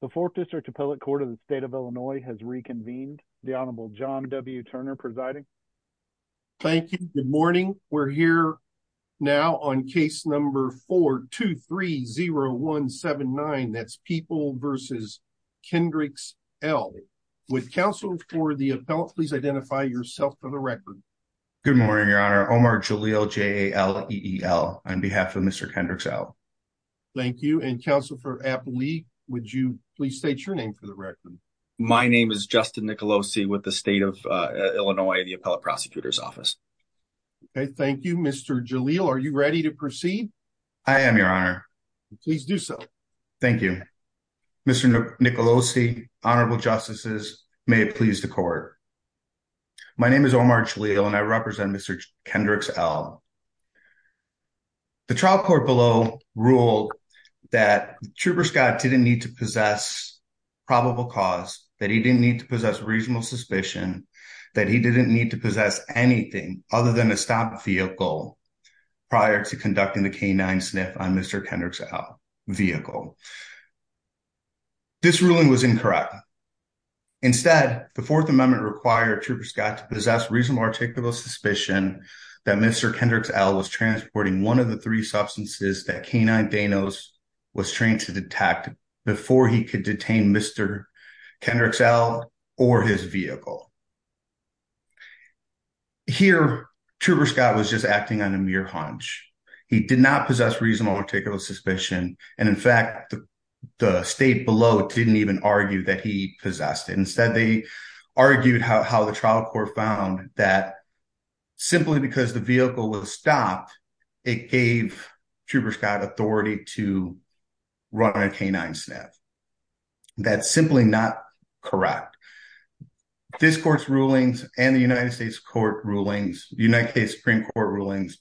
The 4th District Appellate Court of the State of Illinois has reconvened. The Honorable John W. Turner presiding. Thank you. Good morning. We're here now on case number 4-2-3-0-1-7-9. That's People v. Kendricks El. With counsel for the appellate, please identify yourself for the record. Good morning, Your Honor. Omar Jalil, J-A-L-E-E-L, on behalf of Mr. Kendricks El. Thank you. And counsel for appellate, would you please state your name for the record? My name is Justin Nicolosi with the State of Illinois, the Appellate Prosecutor's Office. Okay, thank you. Mr. Jalil, are you ready to proceed? I am, Your Honor. Please do so. Thank you. Mr. Nicolosi, Honorable Justices, may it please the court. My name is Omar Jalil and I represent Mr. Kendricks El. The trial court below ruled that Trooper Scott didn't need to possess probable cause, that he didn't need to possess reasonable suspicion, that he didn't need to possess anything other than a stopped vehicle prior to conducting the K-9 sniff on Mr. Kendricks El's vehicle. This ruling was incorrect. Instead, the Fourth Amendment required Trooper Scott to that Mr. Kendricks El was transporting one of the three substances that K-9 Danos was trained to detect before he could detain Mr. Kendricks El or his vehicle. Here, Trooper Scott was just acting on a mere hunch. He did not possess reasonable or particular suspicion. And in fact, the state below didn't even argue that he possessed it. Instead, they found that simply because the vehicle was stopped, it gave Trooper Scott authority to run a K-9 sniff. That's simply not correct. This court's rulings and the United States United States Supreme Court rulings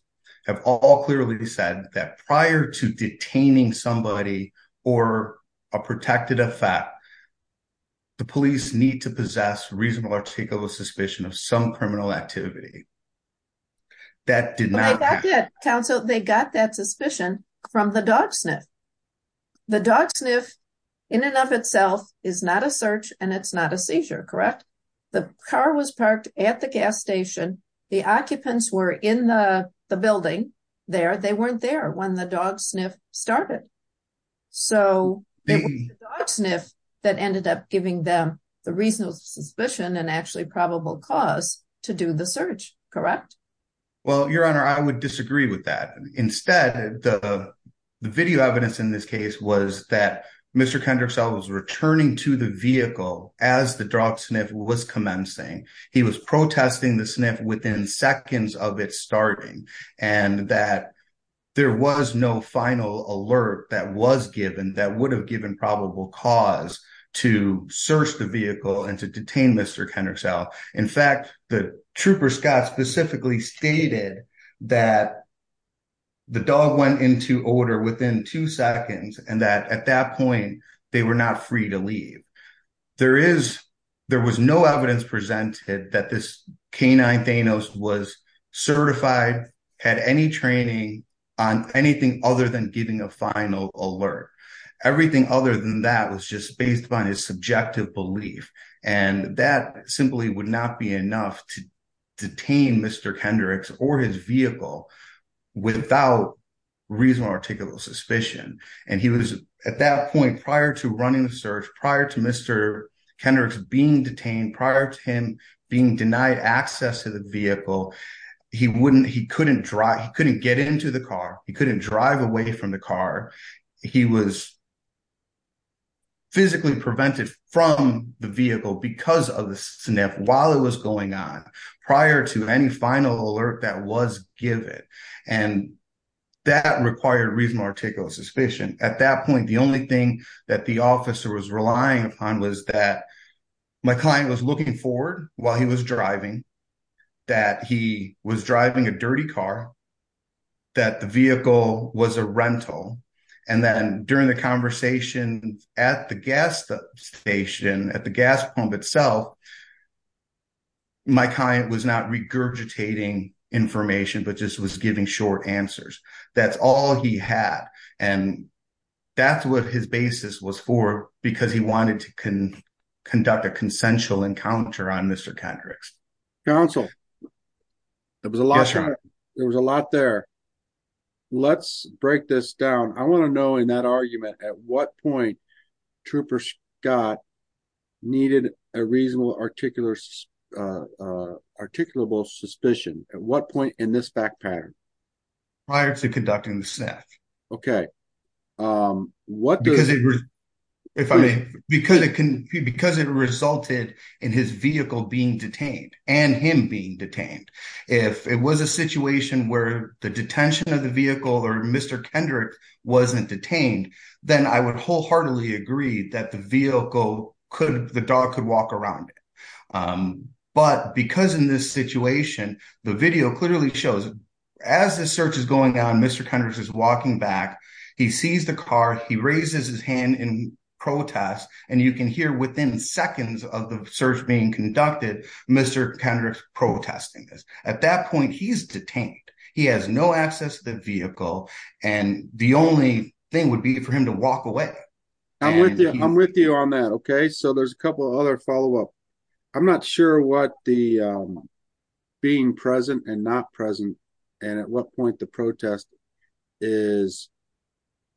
have all clearly said that prior to detaining somebody or a protected effect, the police need to possess reasonable or particular suspicion of some criminal activity. That did not- Okay, that did. Counsel, they got that suspicion from the dog sniff. The dog sniff in and of itself is not a search and it's not a seizure, correct? The car was parked at the gas station. The occupants were in the building there. They weren't there when the so the dog sniff that ended up giving them the reasonable suspicion and actually probable cause to do the search, correct? Well, Your Honor, I would disagree with that. Instead, the video evidence in this case was that Mr. Kendricks El was returning to the vehicle as the dog sniff was commencing. He was protesting the sniff within seconds of it starting and that there was no final alert that was given that would have given probable cause to search the vehicle and to detain Mr. Kendricks El. In fact, the trooper Scott specifically stated that the dog went into order within two seconds and that at that point they were not free to leave. There is- There was no evidence presented that this K-9 Thanos was certified, had any training on anything other than giving a final alert. Everything other than that was just based upon his subjective belief and that simply would not be enough to detain Mr. Kendricks or his vehicle without reasonable or articulable suspicion and he was at that point prior to running the search, prior to Mr. Kendricks being detained, prior to him being denied access to the vehicle, he wouldn't- He wouldn't be able to get away from the car. He was physically prevented from the vehicle because of the sniff while it was going on prior to any final alert that was given and that required reasonable articulable suspicion. At that point, the only thing that the officer was relying upon was that my client was looking forward while he was driving, that he was driving a dirty car, that the vehicle was a rental, and then during the conversation at the gas station, at the gas pump itself, my client was not regurgitating information but just was giving short answers. That's all he had and that's what his basis was for because he wanted to conduct a consensual encounter on Mr. Kendricks. Counsel, there was a lot there. Let's break this down. I want to know in that argument at what point Trooper Scott needed a reasonable articulable suspicion. At what point in this fact pattern? Prior to conducting the sniff. Okay. Because it resulted in his vehicle being detained and him being detained. If it was a situation where the detention of the vehicle or Mr. Kendricks wasn't detained, then I would wholeheartedly agree that the vehicle could- the dog could walk around it. But because in this situation, the video clearly shows as the search is going on, Mr. Kendricks is he sees the car, he raises his hand in protest, and you can hear within seconds of the search being conducted, Mr. Kendricks protesting this. At that point, he's detained. He has no access to the vehicle and the only thing would be for him to walk away. I'm with you on that. Okay, so there's a couple other follow-up. I'm not sure what the being present and not present and at what point the protest is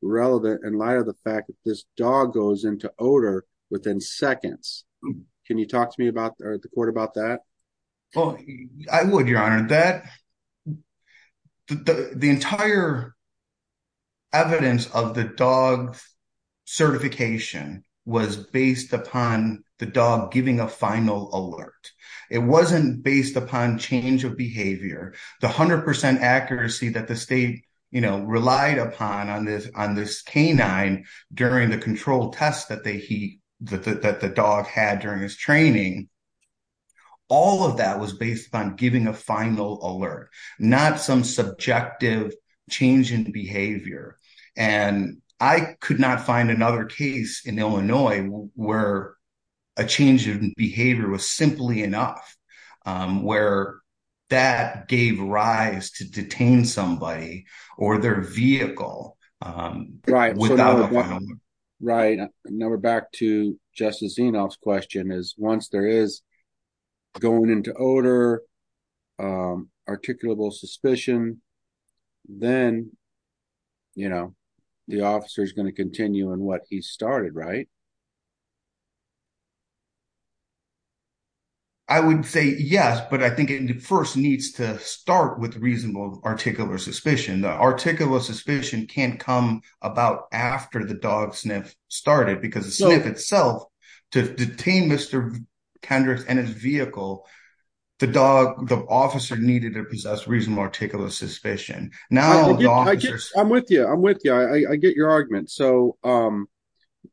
relevant in light of the fact that this dog goes into odor within seconds. Can you talk to me about or the court about that? Well, I would, your honor. That- the entire evidence of the dog certification was based upon the dog giving a final alert. It wasn't based upon change of behavior. The 100% accuracy that the state, you know, relied upon on this- on this canine during the control test that they- that the dog had during his training, all of that was based upon giving a final alert, not some subjective change in behavior. And I could not find another case in Illinois where a change in behavior was simply enough, where that gave rise to detain somebody or their vehicle. Right, now we're back to Justice Zinoff's question is once there is going into odor, articulable suspicion, then, you know, the officer is going to continue in what he started, right? I would say yes, but I think it first needs to start with reasonable articulable suspicion. The articulable suspicion can't come about after the dog sniff started because the sniff itself to detain Mr. Kendricks and his vehicle, the dog- the officer needed to possess reasonable articulable suspicion. Now- I'm with you. I'm with you. I- I get your argument. So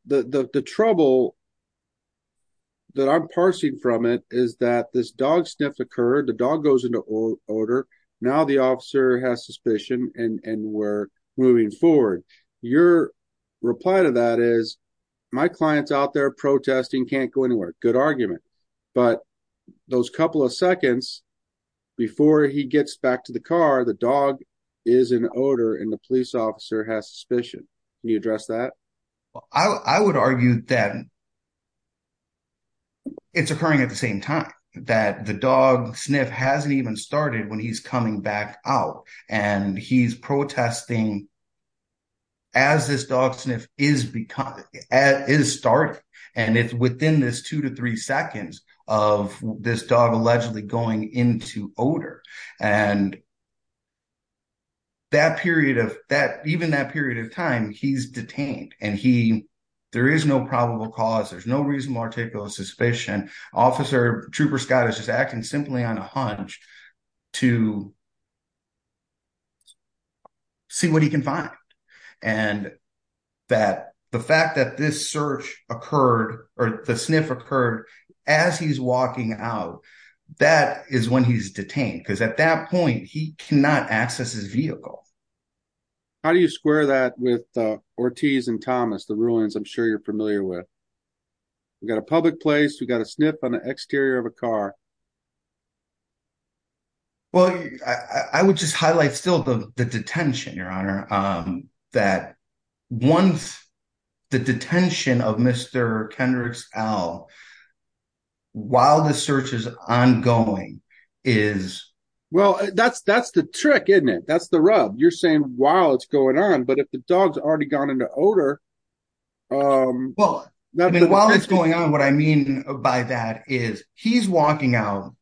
the- the trouble that I'm parsing from it is that this dog sniff occurred, the dog goes into odor, now the officer has suspicion and- and we're moving forward. Your reply to that is my client's out there protesting, can't go anywhere. Good argument, but those couple of seconds before he gets back to the car, the dog is in odor and the police officer has suspicion. Can you address that? I- I would argue that it's occurring at the same time, that the dog sniff hasn't even started when he's coming back out and he's protesting as this dog sniff is become- is starting and it's within this two to three seconds of this dog allegedly going into odor and that period of that- even that period of time he's detained and he- there is no probable cause, there's no reasonable articulable suspicion. Officer Trooper Scott is just acting simply on a hunch to see what he can find and that the fact that this search occurred or the sniff occurred as he's walking out, that is when he's detained because at that point he cannot access his vehicle. How do you square that with Ortiz and Thomas, the ruins I'm sure you're familiar with? We've got a public place, we've got a sniff on the exterior of a car. Well, I- I would just highlight still the- the detention, your honor, that once the detention of Mr. Kendricks L while the search is ongoing is- Well, that's- that's the trick, isn't it? That's the rub. You're saying while it's going on, but if the dog's already gone into odor- Well, I mean while it's going on what I mean by that is he's walking out,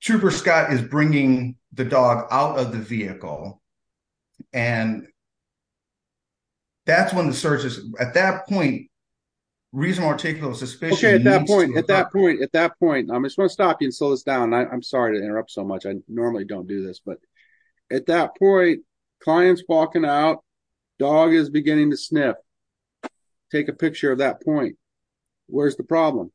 Trooper Scott is bringing the dog out of the vehicle and that's when the search is- at that point reasonable articulable suspicion- Okay, at that point- at that point- at that point, I'm just going to stop you and slow this down. I'm sorry to interrupt so much, I normally don't do this, but at that point, client's walking out, dog is beginning to sniff. Take a picture of that point. Where's the problem?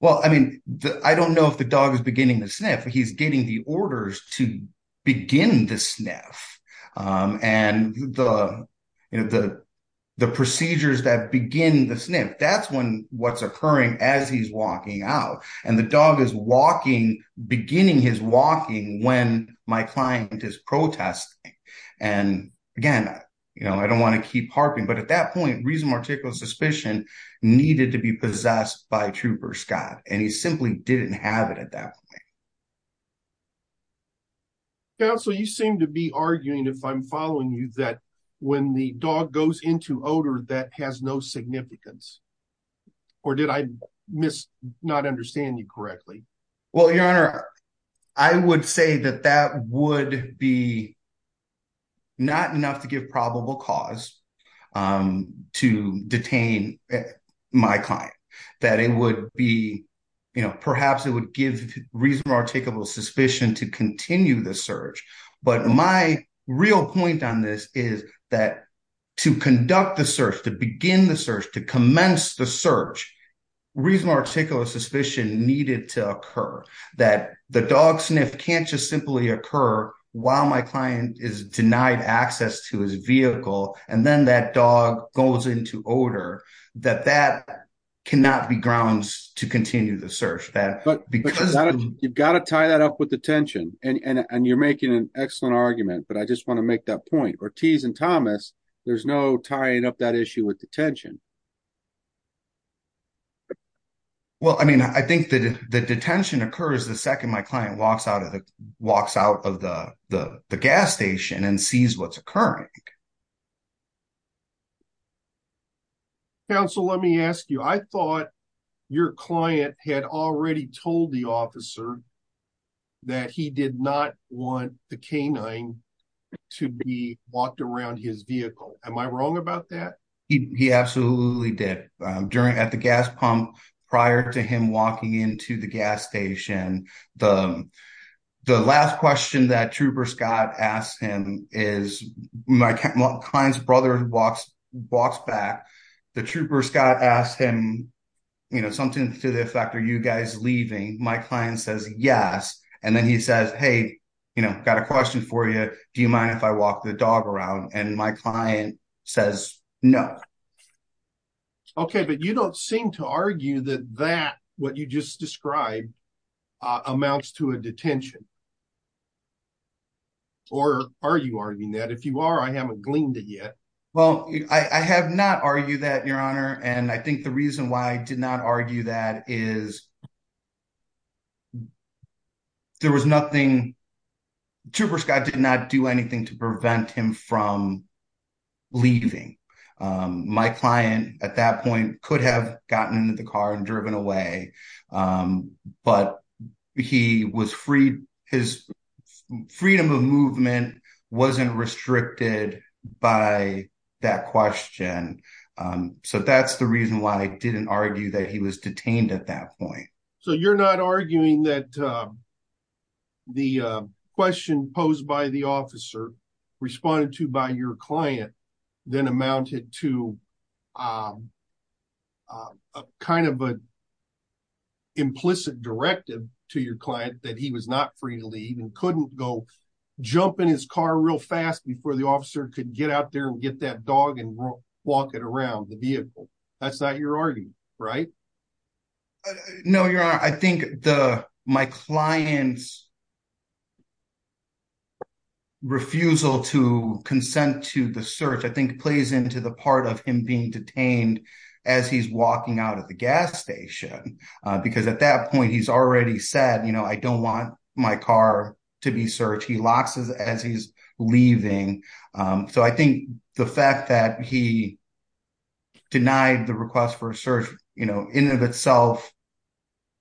Well, I mean, I don't know if the dog is beginning to sniff, he's getting the orders to begin to sniff and the- you know, the- the procedures that begin the sniff, that's when what's occurring as he's walking out and the dog is walking- beginning his walking when my client is protesting and again, you know, I don't want to keep harping, but at that point, reasonable articulable suspicion needed to be possessed by Trooper Scott and he simply didn't have it at that point. Counsel, you seem to be arguing, if I'm following you, that when the dog goes into odor, that has no significance or did I miss- not understand you correctly? Well, your honor, I would say that that would be not enough to give probable cause to detain my client, that it would be, you know, perhaps it would give reasonable articulable suspicion to continue the search, but my real point on this is that to conduct the search, to begin the search, to commence the search, reasonable articulable suspicion needed to occur, that the dog sniff can't just simply occur while my client is denied access to his vehicle and then that dog goes into odor, that that cannot be grounds to continue the search. But you've got to tie that up with detention and you're making an excellent argument, but I just want to make that point. Ortiz and Thomas, there's no tying up that issue with detention. Well, I mean, I think that the detention occurs the second my client walks out of the gas station and sees what's occurring. Counsel, let me ask you, I thought your client had already told the officer that he did not want the canine to be walked around his vehicle. Am I wrong about that? He absolutely did. During- at the gas pump, prior to him walking into the gas station, the last question that Trooper Scott asked him is, my client's brother walks back, the Trooper Scott asked him, you know, something to the effect, are you guys leaving? My client says yes, and then he says, hey, you know, got a question for you, do you mind if I walk the dog around? And my client says no. Okay, but you don't seem to argue that that, what you just described, amounts to a detention. Or are you arguing that? If you are, I haven't gleaned it yet. Well, I have not argued that, your honor, and I think the reason why I did not argue that is there was nothing- Trooper Scott did not do anything to prevent him from leaving. My client, at that point, could have gotten into the car and driven away, but he was freed, his freedom of movement wasn't restricted by that question. So that's the reason why I didn't argue that he was detained at that point. So you're not arguing that the question posed by the officer, responded to by your client, then amounted to a kind of an implicit directive to your client that he was not free to leave and couldn't go jump in his car real fast before the officer could get out there and get that dog and walk it around the vehicle. That's not your argument, right? No, your honor. I think my client's refusal to consent to the search, I think, plays into the part of him being detained as he's walking out of the gas station. Because at that point, he's already said, I don't want my car to be searched. He locks it as he's leaving. So I think the fact that he denied the request for a search, in and of itself,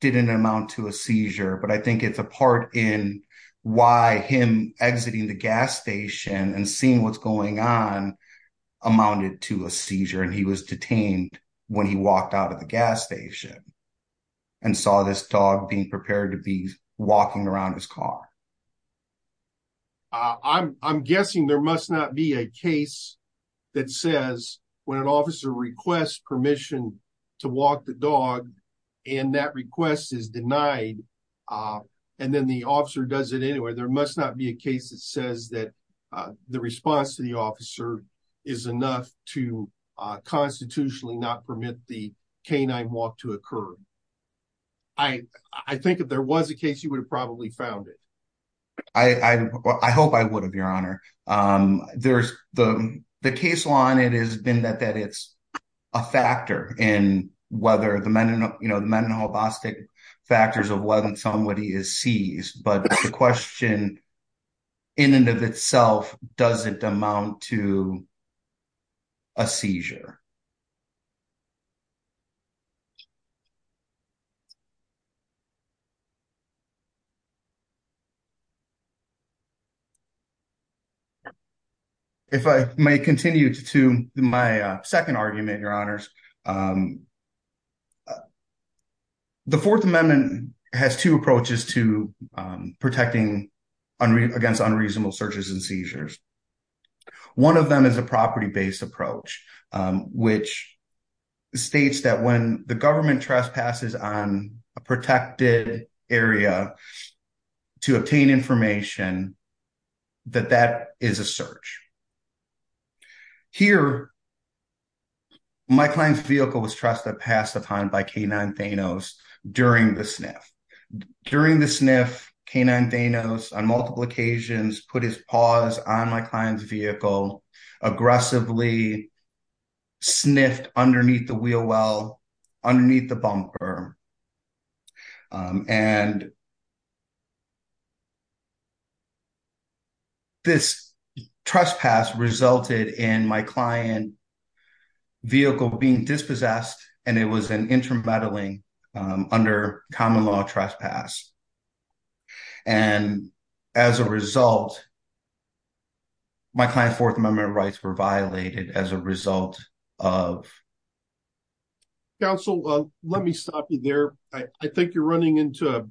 didn't amount to a seizure. But I think it's a part in why him exiting the gas station and seeing what's going on amounted to a seizure. And he was detained when he walked out of the gas station and saw this dog being prepared to be When an officer requests permission to walk the dog, and that request is denied, and then the officer does it anyway, there must not be a case that says that the response to the officer is enough to constitutionally not permit the canine walk to occur. I think if there was a case, you would have probably found it. I hope I would have, your honor. There's the case law, and it has been that it's a factor in whether the meninal, you know, the meninobostic factors of whether somebody is seized. But the question, in and of itself, doesn't amount to a seizure. If I may continue to my second argument, your honors. The Fourth Amendment has two approaches to protecting against unreasonable searches and seizures. One of them is a property-based approach, which states that when the government trespasses on a protected area to obtain information, that that is a search. Here, my client's vehicle was trusted past the time by canine Thanos during the sniff. During the sniff, canine Thanos, on multiple occasions, put his paws on my client's vehicle, aggressively sniffed underneath the wheel well, underneath the bumper. And this trespass resulted in my client's vehicle being dispossessed, and it was an intermeddling under common law trespass. And as a result, my client's Fourth Amendment rights were violated as a result of... Counsel, let me stop you there. I think you're running into a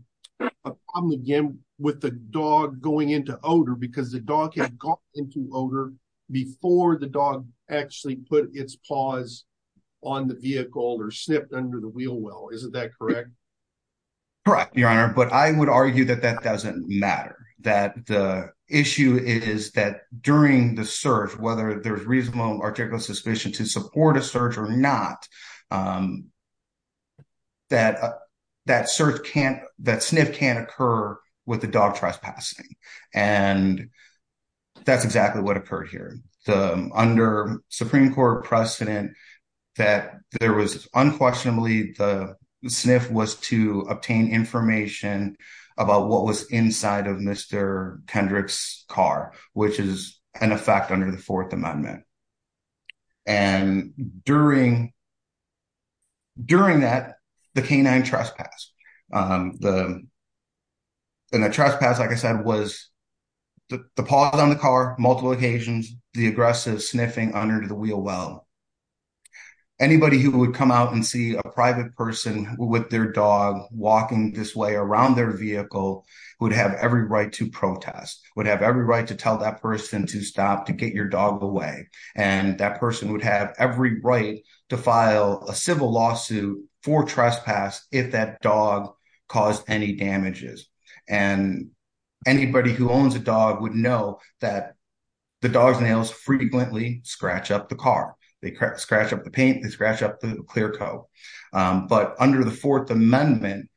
problem again with the dog going into odor because the dog had got into odor before the dog actually put its paws on the vehicle or sniffed under the wheel well. Isn't that correct? Correct, your honor. But I would argue that that is that during the search, whether there's reasonable article of suspicion to support a search or not, that sniff can't occur with the dog trespassing. And that's exactly what occurred here. Under Supreme Court precedent, that there was unquestionably the sniff was to obtain information about what was inside of Mr. Kendrick's car, which is an effect under the Fourth Amendment. And during that, the canine trespass, and the trespass, like I said, was the paws on the car, multiple occasions, the aggressive sniffing under the wheel well. Anybody who would come out and see a private person with their dog walking this way around their vehicle would have every right to protest, would have every right to tell that person to stop to get your dog away. And that person would have every right to file a civil lawsuit for trespass if that dog caused any damages. And anybody who owns a dog would know that the dog's scratched up the paint, they scratch up the clear coat. But under the Fourth Amendment,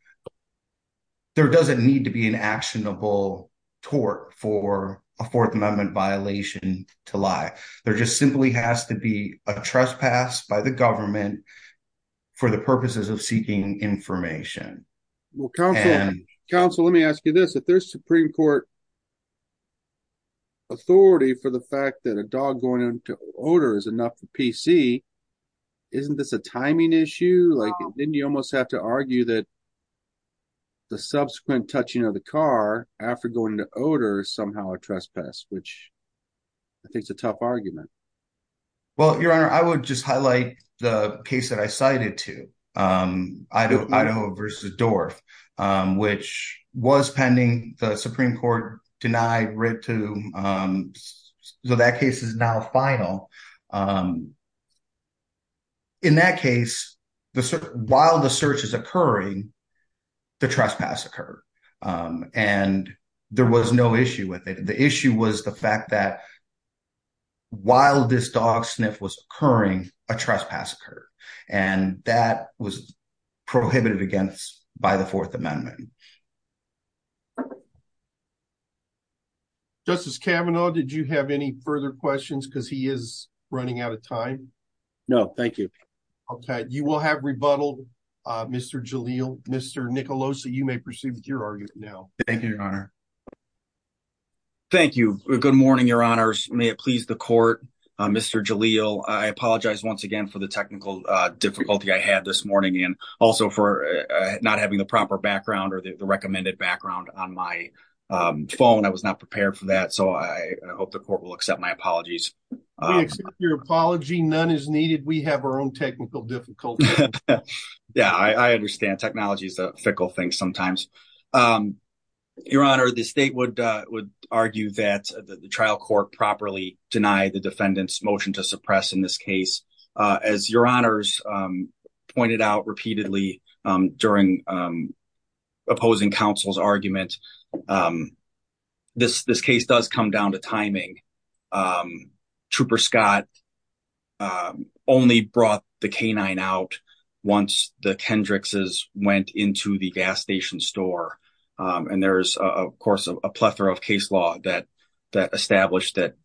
there doesn't need to be an actionable tort for a Fourth Amendment violation to lie. There just simply has to be a trespass by the government for the purposes of seeking information. Well, counsel, let me ask you this. If there's Supreme Court authority for the fact that a dog going into odor is enough for PC, isn't this a timing issue? Like, didn't you almost have to argue that the subsequent touching of the car after going to odor is somehow a trespass, which I think is a tough argument. Well, Your Honor, I would just highlight the case that I cited to, Idaho versus Dorff, which was pending the Supreme Court denied writ to, so that case is now final. In that case, while the search is occurring, the trespass occurred. And there was no issue with it. The issue was the fact that while this dog sniff was occurring, a trespass occurred, and that was prohibited against by the Fourth Amendment. Justice Kavanaugh, did you have any further questions because he is running out of time? No, thank you. Okay, you will have rebuttal, Mr. Jalil. Mr. Nicolosi, you may proceed with your argument now. Thank you, Your Honor. Thank you. Good morning, Your Honors. May it please the court, Mr. Jalil, I apologize once again for the technical difficulty I had this morning and also for not having the proper background or the recommended background on my phone. I was not prepared for that, so I hope the court will accept my apologies. We accept your apology. None is needed. We have our own technical difficulties. Yeah, I understand. Technology is a fickle thing sometimes. Your Honor, the state would argue that the trial court properly denied the defendant's motion to suppress in this case. As Your Honors pointed out repeatedly during opposing counsel's argument, this case does come down to timing. Trooper Scott only brought the canine out once the Kendrix's went into the gas station store. There is, of course, a plethora of case law that established that,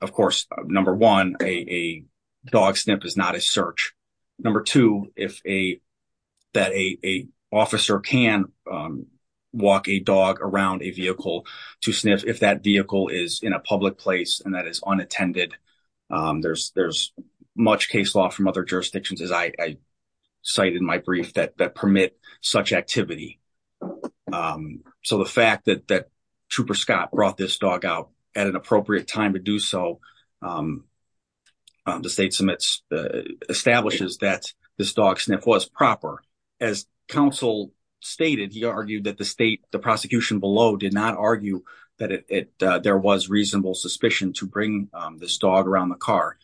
of course, number one, a dog sniff is not a search. Number two, that an officer can walk a dog around a vehicle to sniff if that vehicle is in a public place and is unattended. There's much case law from other jurisdictions, as I cited in my brief, that permit such activity. So the fact that Trooper Scott brought this dog out at an appropriate time to do so, the state establishes that this dog sniff was proper. As counsel stated, he argued that the state, the prosecution below, did not argue that there was reasonable suspicion to bring this dog around the car.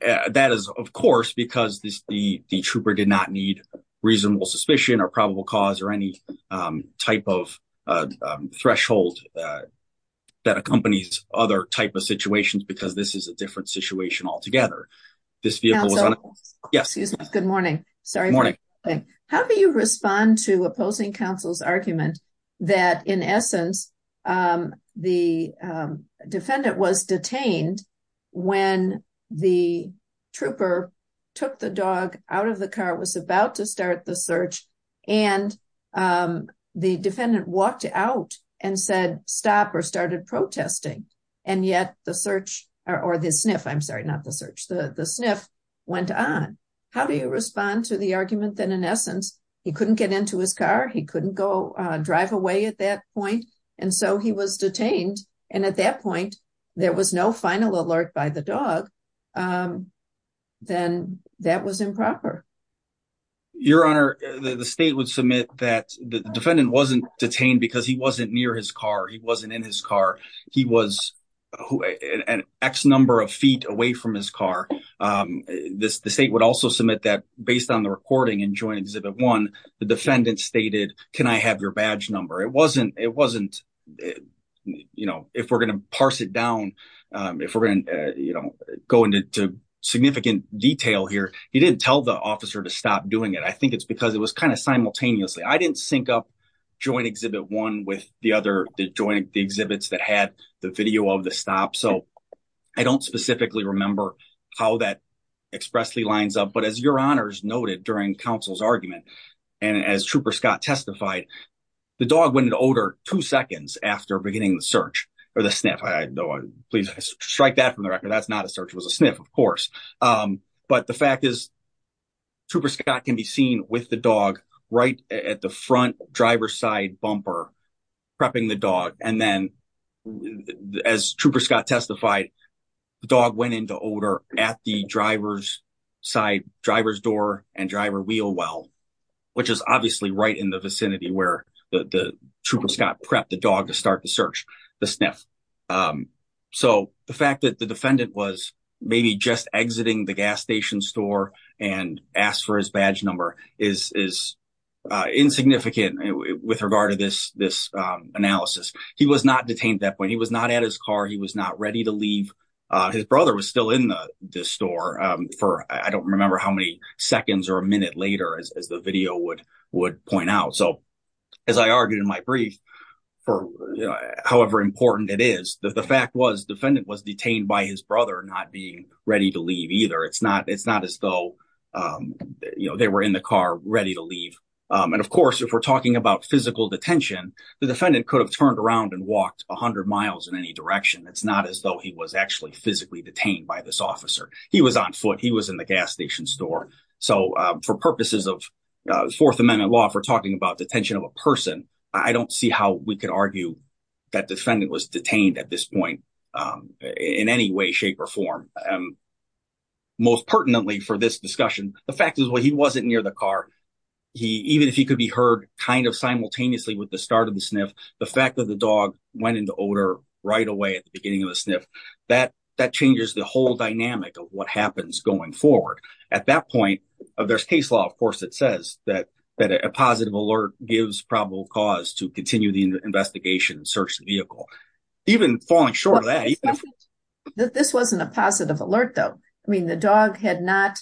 That is, of course, because the trooper did not need reasonable suspicion or probable cause or any type of threshold that accompanies other type of situations because this is a different situation altogether. Good morning. How do you respond to opposing counsel's argument that, in essence, the defendant was detained when the trooper took the dog out of the car, was about to start the search, and the defendant walked out and said stop or started protesting, and yet the search, or the sniff, I'm sorry, not the search, the sniff went on? How do you respond to the argument that, in essence, he couldn't get into his car, he couldn't go drive away at that point, and so he was detained and at that point there was no final alert by the dog, then that was improper? Your Honor, the state would submit that the defendant wasn't detained because he wasn't near his car, he wasn't in his car, he was an X number of feet away from his car. The state would also submit that, based on the recording in Joint Exhibit 1, the defendant stated, can I have your badge number? It wasn't, you know, if we're going to parse it down, if we're going to, you know, go into significant detail here, he didn't tell the officer to stop doing it. I think it's because it was kind of simultaneously. I didn't sync up Joint Exhibit 1 with the other joint exhibits that had the video of the stop, so I don't specifically remember how that expressly lines up, but as Your Honor's noted during counsel's argument, and as Trooper Scott testified, the dog went into odor two seconds after beginning the search, or the sniff. Please strike that from the record, that's not a search, it was a sniff, of course. But the fact is, Trooper Scott can be seen with the dog right at the front driver's side prepping the dog, and then as Trooper Scott testified, the dog went into odor at the driver's side, driver's door, and driver wheel well, which is obviously right in the vicinity where the Trooper Scott prepped the dog to start the search, the sniff. So the fact that the defendant was maybe just exiting the gas station store and asked for his badge number is insignificant with regard to this analysis. He was not detained at that point, he was not at his car, he was not ready to leave. His brother was still in the store for I don't remember how many seconds or a minute later, as the video would point out. So as I argued in my brief, however important it is, the fact was the defendant was detained by his brother not being ready to leave either. It's not as though, you know, they were in the car ready to leave. And of course, if we're talking about physical detention, the defendant could have turned around and walked 100 miles in any direction. It's not as though he was actually physically detained by this officer. He was on foot, he was in the gas station store. So for purposes of Fourth Amendment law, for talking about detention of a person, I don't see how we could argue that defendant was detained at this for this discussion. The fact is, well, he wasn't near the car. Even if he could be heard kind of simultaneously with the start of the sniff, the fact that the dog went into odor right away at the beginning of the sniff, that changes the whole dynamic of what happens going forward. At that point, there's case law, of course, that says that a positive alert gives probable cause to continue the investigation and search the vehicle. Even falling short of that, that this wasn't a positive alert, though. I mean, the dog had not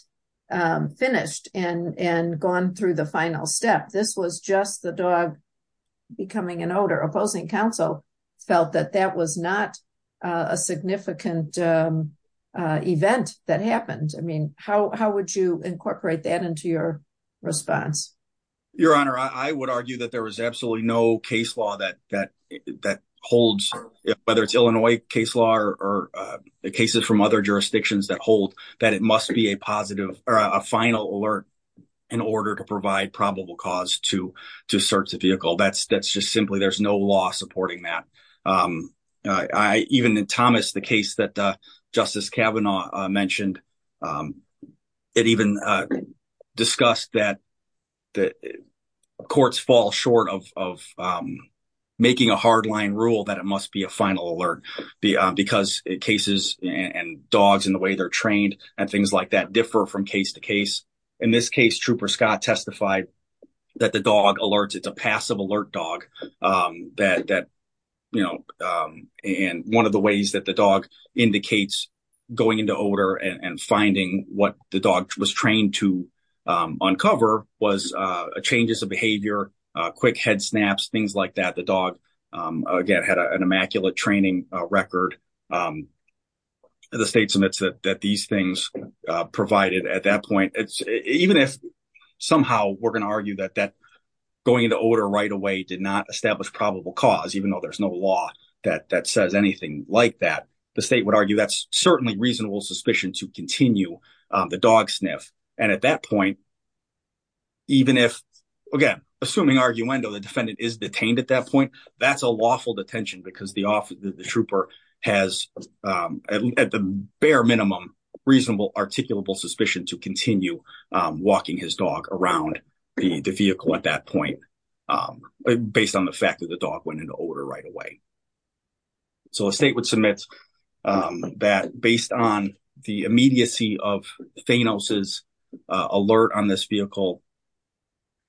finished and gone through the final step. This was just the dog becoming an odor opposing counsel felt that that was not a significant event that happened. I mean, how would you incorporate that into your response? Your Honor, I would argue that there was absolutely no case law that holds, whether it's Illinois case law or cases from other jurisdictions that hold, that it must be a positive or a final alert in order to provide probable cause to search the vehicle. That's just simply, there's no law supporting that. Even in Thomas, the case that Justice Kavanaugh mentioned, it even discussed that courts fall short of making a hard line rule that it must be a final alert because cases and dogs and the way they're trained and things like that differ from case to case. In this case, Trooper Scott testified that the dog alerts. It's a passive alert dog. One of the ways that the dog indicates going into odor and finding what the dog was trained to uncover was changes of behavior, quick head snaps, things like that. The training record, the state submits that these things provided at that point. Even if somehow we're going to argue that going into odor right away did not establish probable cause, even though there's no law that says anything like that, the state would argue that's certainly reasonable suspicion to continue the dog sniff. And at that point, even if, again, assuming arguendo, the defendant is detained at that point, that's a lawful detention because the trooper has at the bare minimum reasonable articulable suspicion to continue walking his dog around the vehicle at that point based on the fact that the dog went into odor right away. So a state would submit that based on the immediacy of Thanos's alert on this vehicle,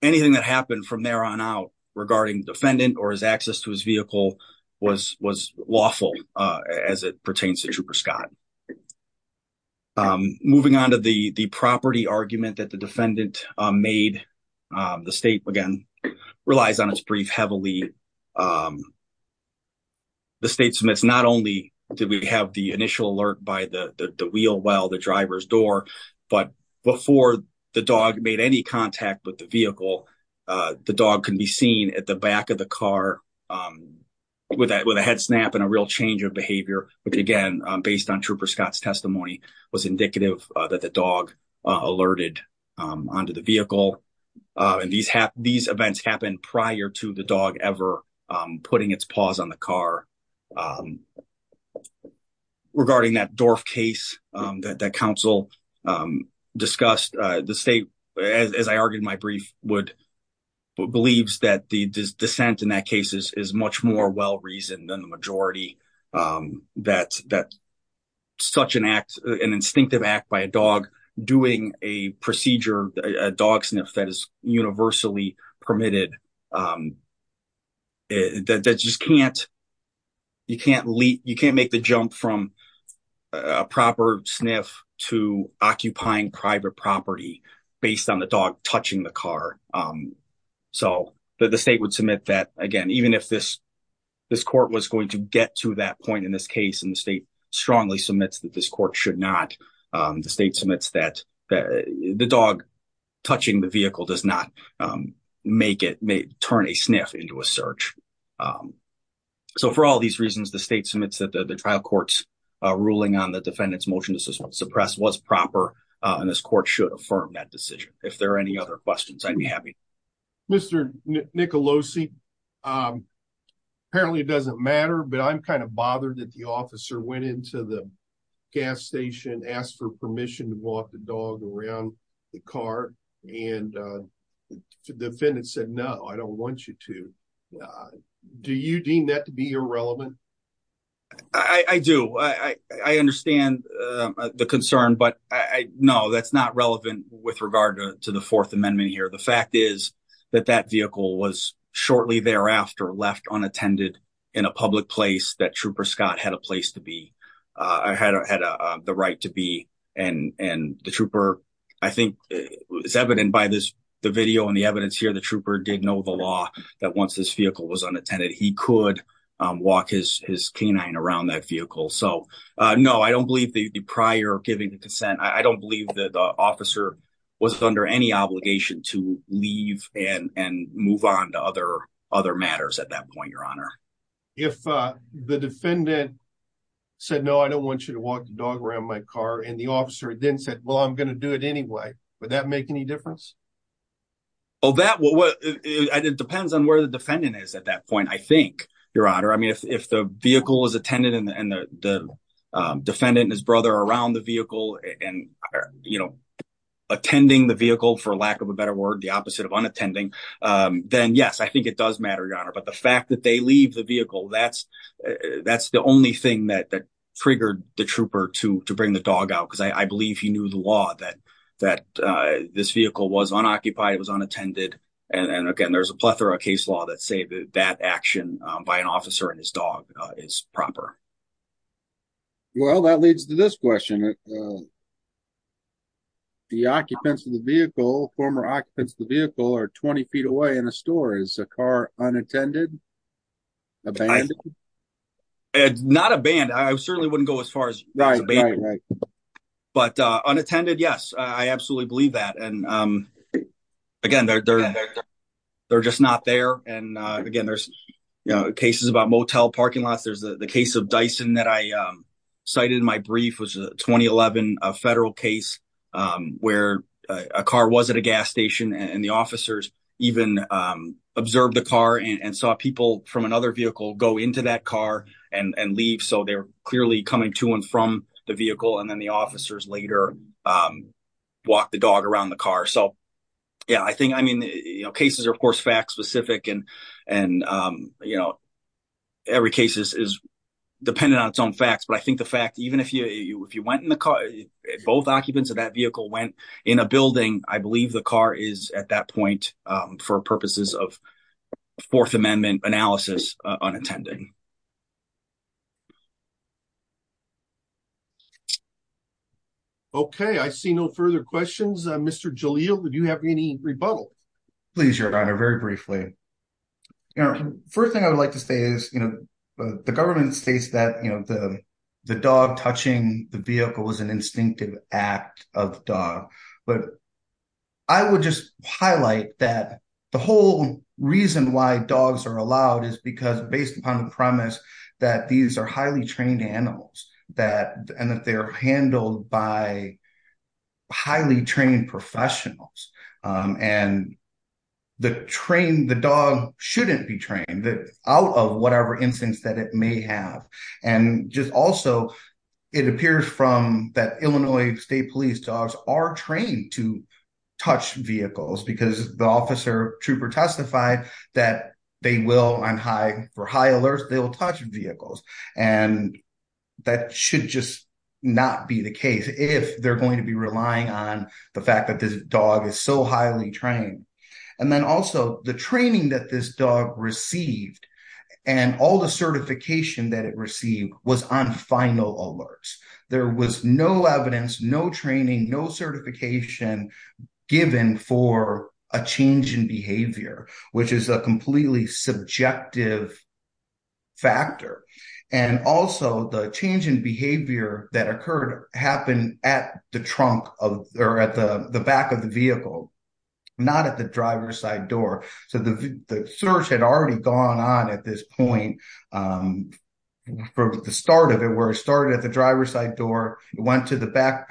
anything that happened from there on out regarding the defendant or his access to his vehicle was lawful as it pertains to Trooper Scott. Moving on to the property argument that the defendant made, the state again relies on its brief heavily. The state submits not only did we have the initial alert by the wheel well, the seen at the back of the car with a head snap and a real change of behavior, which again, based on Trooper Scott's testimony, was indicative that the dog alerted onto the vehicle. And these events happened prior to the dog ever putting its paws on the car. Regarding that Dorf case that council discussed, the state, as I argued in my brief, believes that the dissent in that case is much more well-reasoned than the majority, that such an act, an instinctive act by a dog doing a procedure, a dog sniff that is universally permitted, that just can't, you can't leap, from a proper sniff to occupying private property based on the dog touching the car. So the state would submit that again, even if this, this court was going to get to that point in this case and the state strongly submits that this court should not, the state submits that the dog touching the vehicle does not make it, may turn a sniff into a search. So for all these reasons, the state submits that the trial court's ruling on the defendant's motion to suppress was proper, and this court should affirm that decision. If there are any other questions, I'd be happy. Mr. Nicolosi, apparently it doesn't matter, but I'm kind of bothered that the officer went into the gas station, asked for permission to walk the dog around the car, and the defendant said, no, I don't want you to. Do you deem that to be irrelevant? I do. I understand the concern, but no, that's not relevant with regard to the fourth amendment here. The fact is that that vehicle was shortly thereafter left unattended in a public place that trooper Scott had a place to be, had the right to be. And the trooper, I think it's evident by this, the video and the evidence here, the trooper did know the law that once this vehicle was unattended, he could walk his canine around that vehicle. So no, I don't believe the prior giving the consent. I don't believe that the officer was under any obligation to leave and move on to other matters at that point, Your Honor. If the defendant said, no, I don't want you to walk the dog around my car, and the officer then said, well, I'm going to do it anyway, would that make any difference? Well, it depends on where the defendant is at that point, I think, Your Honor. I mean, if the vehicle was attended and the defendant and his brother around the vehicle and attending the vehicle, for lack of a better word, the opposite of unattending, then yes, I think it does matter, Your Honor. But the fact that they leave the vehicle, that's the only thing that triggered the trooper to bring the dog out, because I believe he knew the law that this vehicle was unoccupied, it was unattended. And again, there's a plethora of case law that say that action by an officer and his dog is proper. Well, that leads to this question. The occupants of the vehicle, former occupants of the vehicle, are 20 feet away in a store. Is the car unattended? Abandoned? It's not abandoned. I certainly wouldn't go as far as but unattended, yes, I absolutely believe that. And again, they're just not there. And again, there's cases about motel parking lots. There's the case of Dyson that I cited in my brief, 2011 federal case, where a car was at a gas station and the officers even observed the car and saw people from another vehicle go into that car and leave. So they're clearly coming to and from the vehicle. And then the officers later walk the dog around the car. So yeah, I think, I mean, you know, cases are, of course, fact specific. And, you know, every case is dependent on its own facts. But I think the fact, even if you went in the car, both occupants of that vehicle went in a building, I believe the car is at that point, for purposes of Fourth Amendment analysis, unattended. Okay, I see no further questions. Mr. Jalil, do you have any rebuttal? Please, Your Honor, very briefly. First thing I would like to say is, you know, the government states that, you know, the dog touching the vehicle is an instinctive act of dog. But I would just highlight that the whole reason why dogs are allowed is because based upon the premise that these are highly trained animals, and that they're handled by highly trained professionals, and the trained the dog shouldn't be trained out of whatever instance that it may have. And just also, it appears from that Illinois State Police dogs are trained to touch vehicles because the officer trooper testified that they will on high for high alerts, they will touch vehicles. And that should just not be the case if they're going to be relying on the fact that this dog is so highly trained. And then also the training that this dog received, and all the certification that it received was on final alerts. There was no evidence, no training, no certification given for a change in behavior, which is a completely subjective factor. And also the change in behavior that occurred happened at the trunk of or at the back of the vehicle, not at the driver's side door. So the search had already gone on at this point, from the start of it, where it started at the driver's side door, it went to the back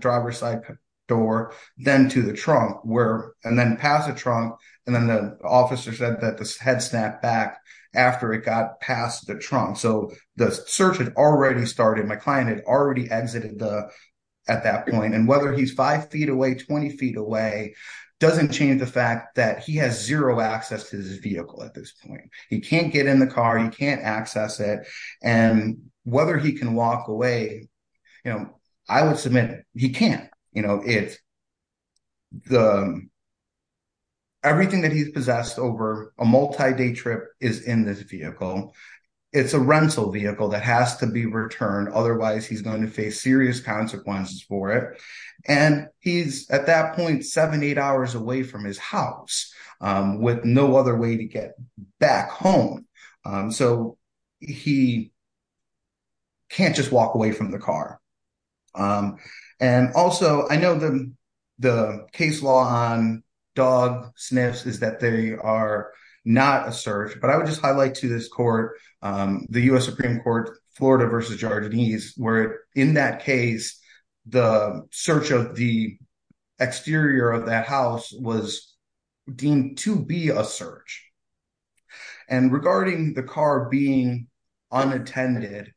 driver's side door, then to the trunk, and then past the trunk. And then the officer said that had snapped back after it got past the trunk. So the search had already started, my client had already exited at that point. And whether he's five feet away, 20 feet away, doesn't change the fact that he has zero access to his vehicle at this point. He can't get in the car, he can't access it. And whether he can walk away, I would submit he can't. Everything that he's possessed over a multi-day trip is in this vehicle. It's a rental vehicle that has to be returned, otherwise he's going to face serious consequences for it. And he's at that point seven, eight hours away from his house, with no other way to get back home. So he can't just walk away from the car. And also, I know the case law on Dog Smiths is that they are not a search, but I would just highlight to this court, the U.S. Supreme Court, Florida versus Georgianese, where in that case, the search of the exterior of that house was deemed to be a search. And regarding the car being unattended,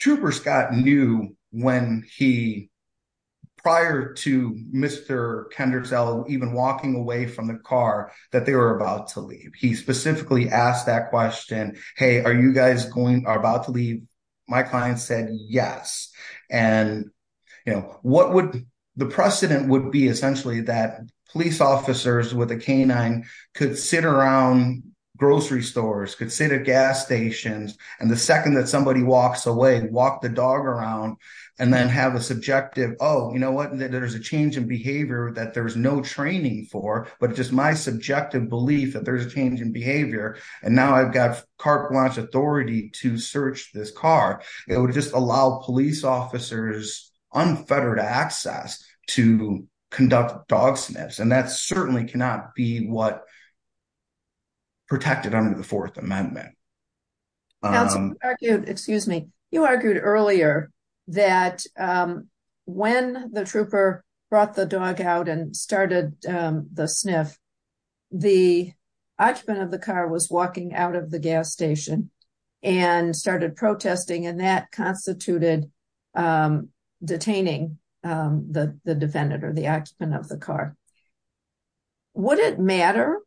Trooper Scott knew when he, prior to Mr. Kendricksell even walking away from the car, that they were about to leave. He specifically asked that question, hey, are you guys about to leave? My client said yes. And the precedent would be essentially that police officers with a canine could sit around grocery stores, could sit at gas stations, and the second that somebody walks away, walk the dog around, and then have a subjective, oh, you know what, there's a change in behavior that there's no training for, but just my subjective belief that there's a change in behavior, and now I've got car wash authority to search this car, it would just allow police officers unfettered access to conduct Dog Sniffs. And that certainly cannot be what protected under the Fourth Amendment. Excuse me. You argued earlier that when the trooper brought the dog out and started the sniff, the occupant of the car was walking out of the gas station and started protesting, and that constituted detaining the defendant or the occupant of the car. Would it matter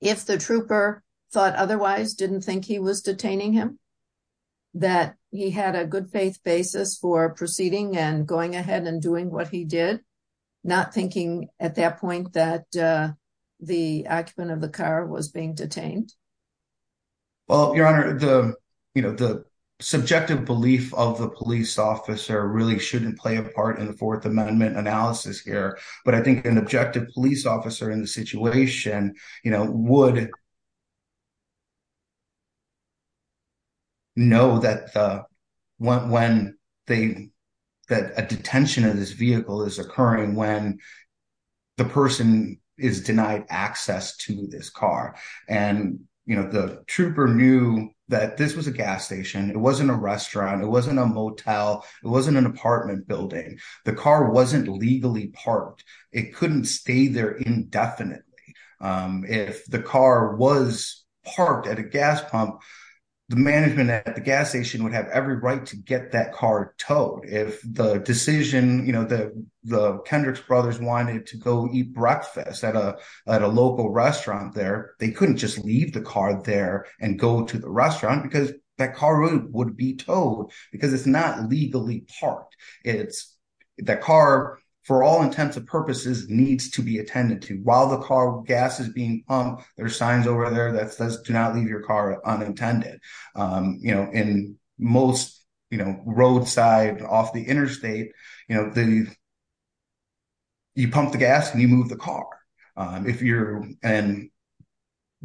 if the trooper thought otherwise, didn't think he was detaining him, that he had a good faith basis for proceeding and going ahead and doing what he did, not thinking at that point that the occupant of the car was being detained? Well, Your Honor, the subjective belief of the police officer really shouldn't play a part in the Fourth Amendment analysis here, but I think an objective police officer in the situation would know that a detention of this vehicle is occurring when the person is denied access to this car, and the trooper knew that this was a gas station. It wasn't a restaurant. It wasn't a motel. It wasn't an apartment building. The car wasn't legally parked. It couldn't stay there indefinitely. If the car was parked at a gas pump, the management at the gas station would have every right to get that car towed. If the decision, the Kendricks brothers wanted to go eat breakfast at a local restaurant there, they couldn't just leave the car there and go to the restaurant because that car would be towed because it's not legally parked. The car, for all intents and purposes, needs to be attended to. While the car gas is being pumped, there are signs over there that says, do not leave your car unattended. In most roadside off the interstate, you pump the car.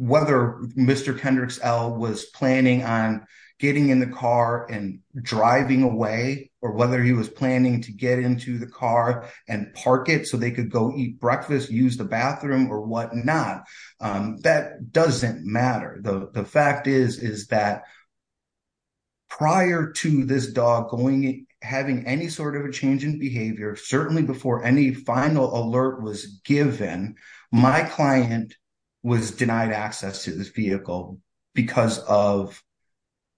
Whether Mr. Kendricks L. was planning on getting in the car and driving away or whether he was planning to get into the car and park it so they could go eat breakfast, use the bathroom or whatnot, that doesn't matter. The fact is that prior to this dog having any sort of a change in my client was denied access to this vehicle because of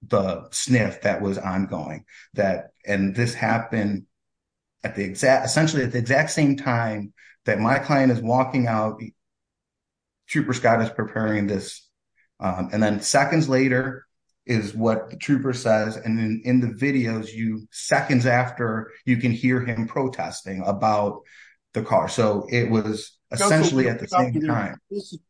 the sniff that was ongoing. This happened essentially at the exact same time that my client is walking out. Trooper Scott is preparing this. Then seconds later is what the trooper says. Then in the videos, seconds after, you can hear him protesting about the car. It was essentially at the same time.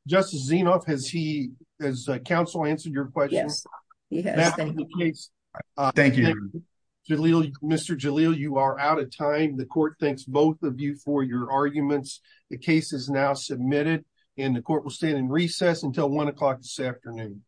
Justice Zinoff, has counsel answered your question? Yes, he has. Thank you. Mr. Jalil, you are out of time. The court thanks both of you for your arguments. The case is now submitted and the court will stand in recess until 1 o'clock this afternoon.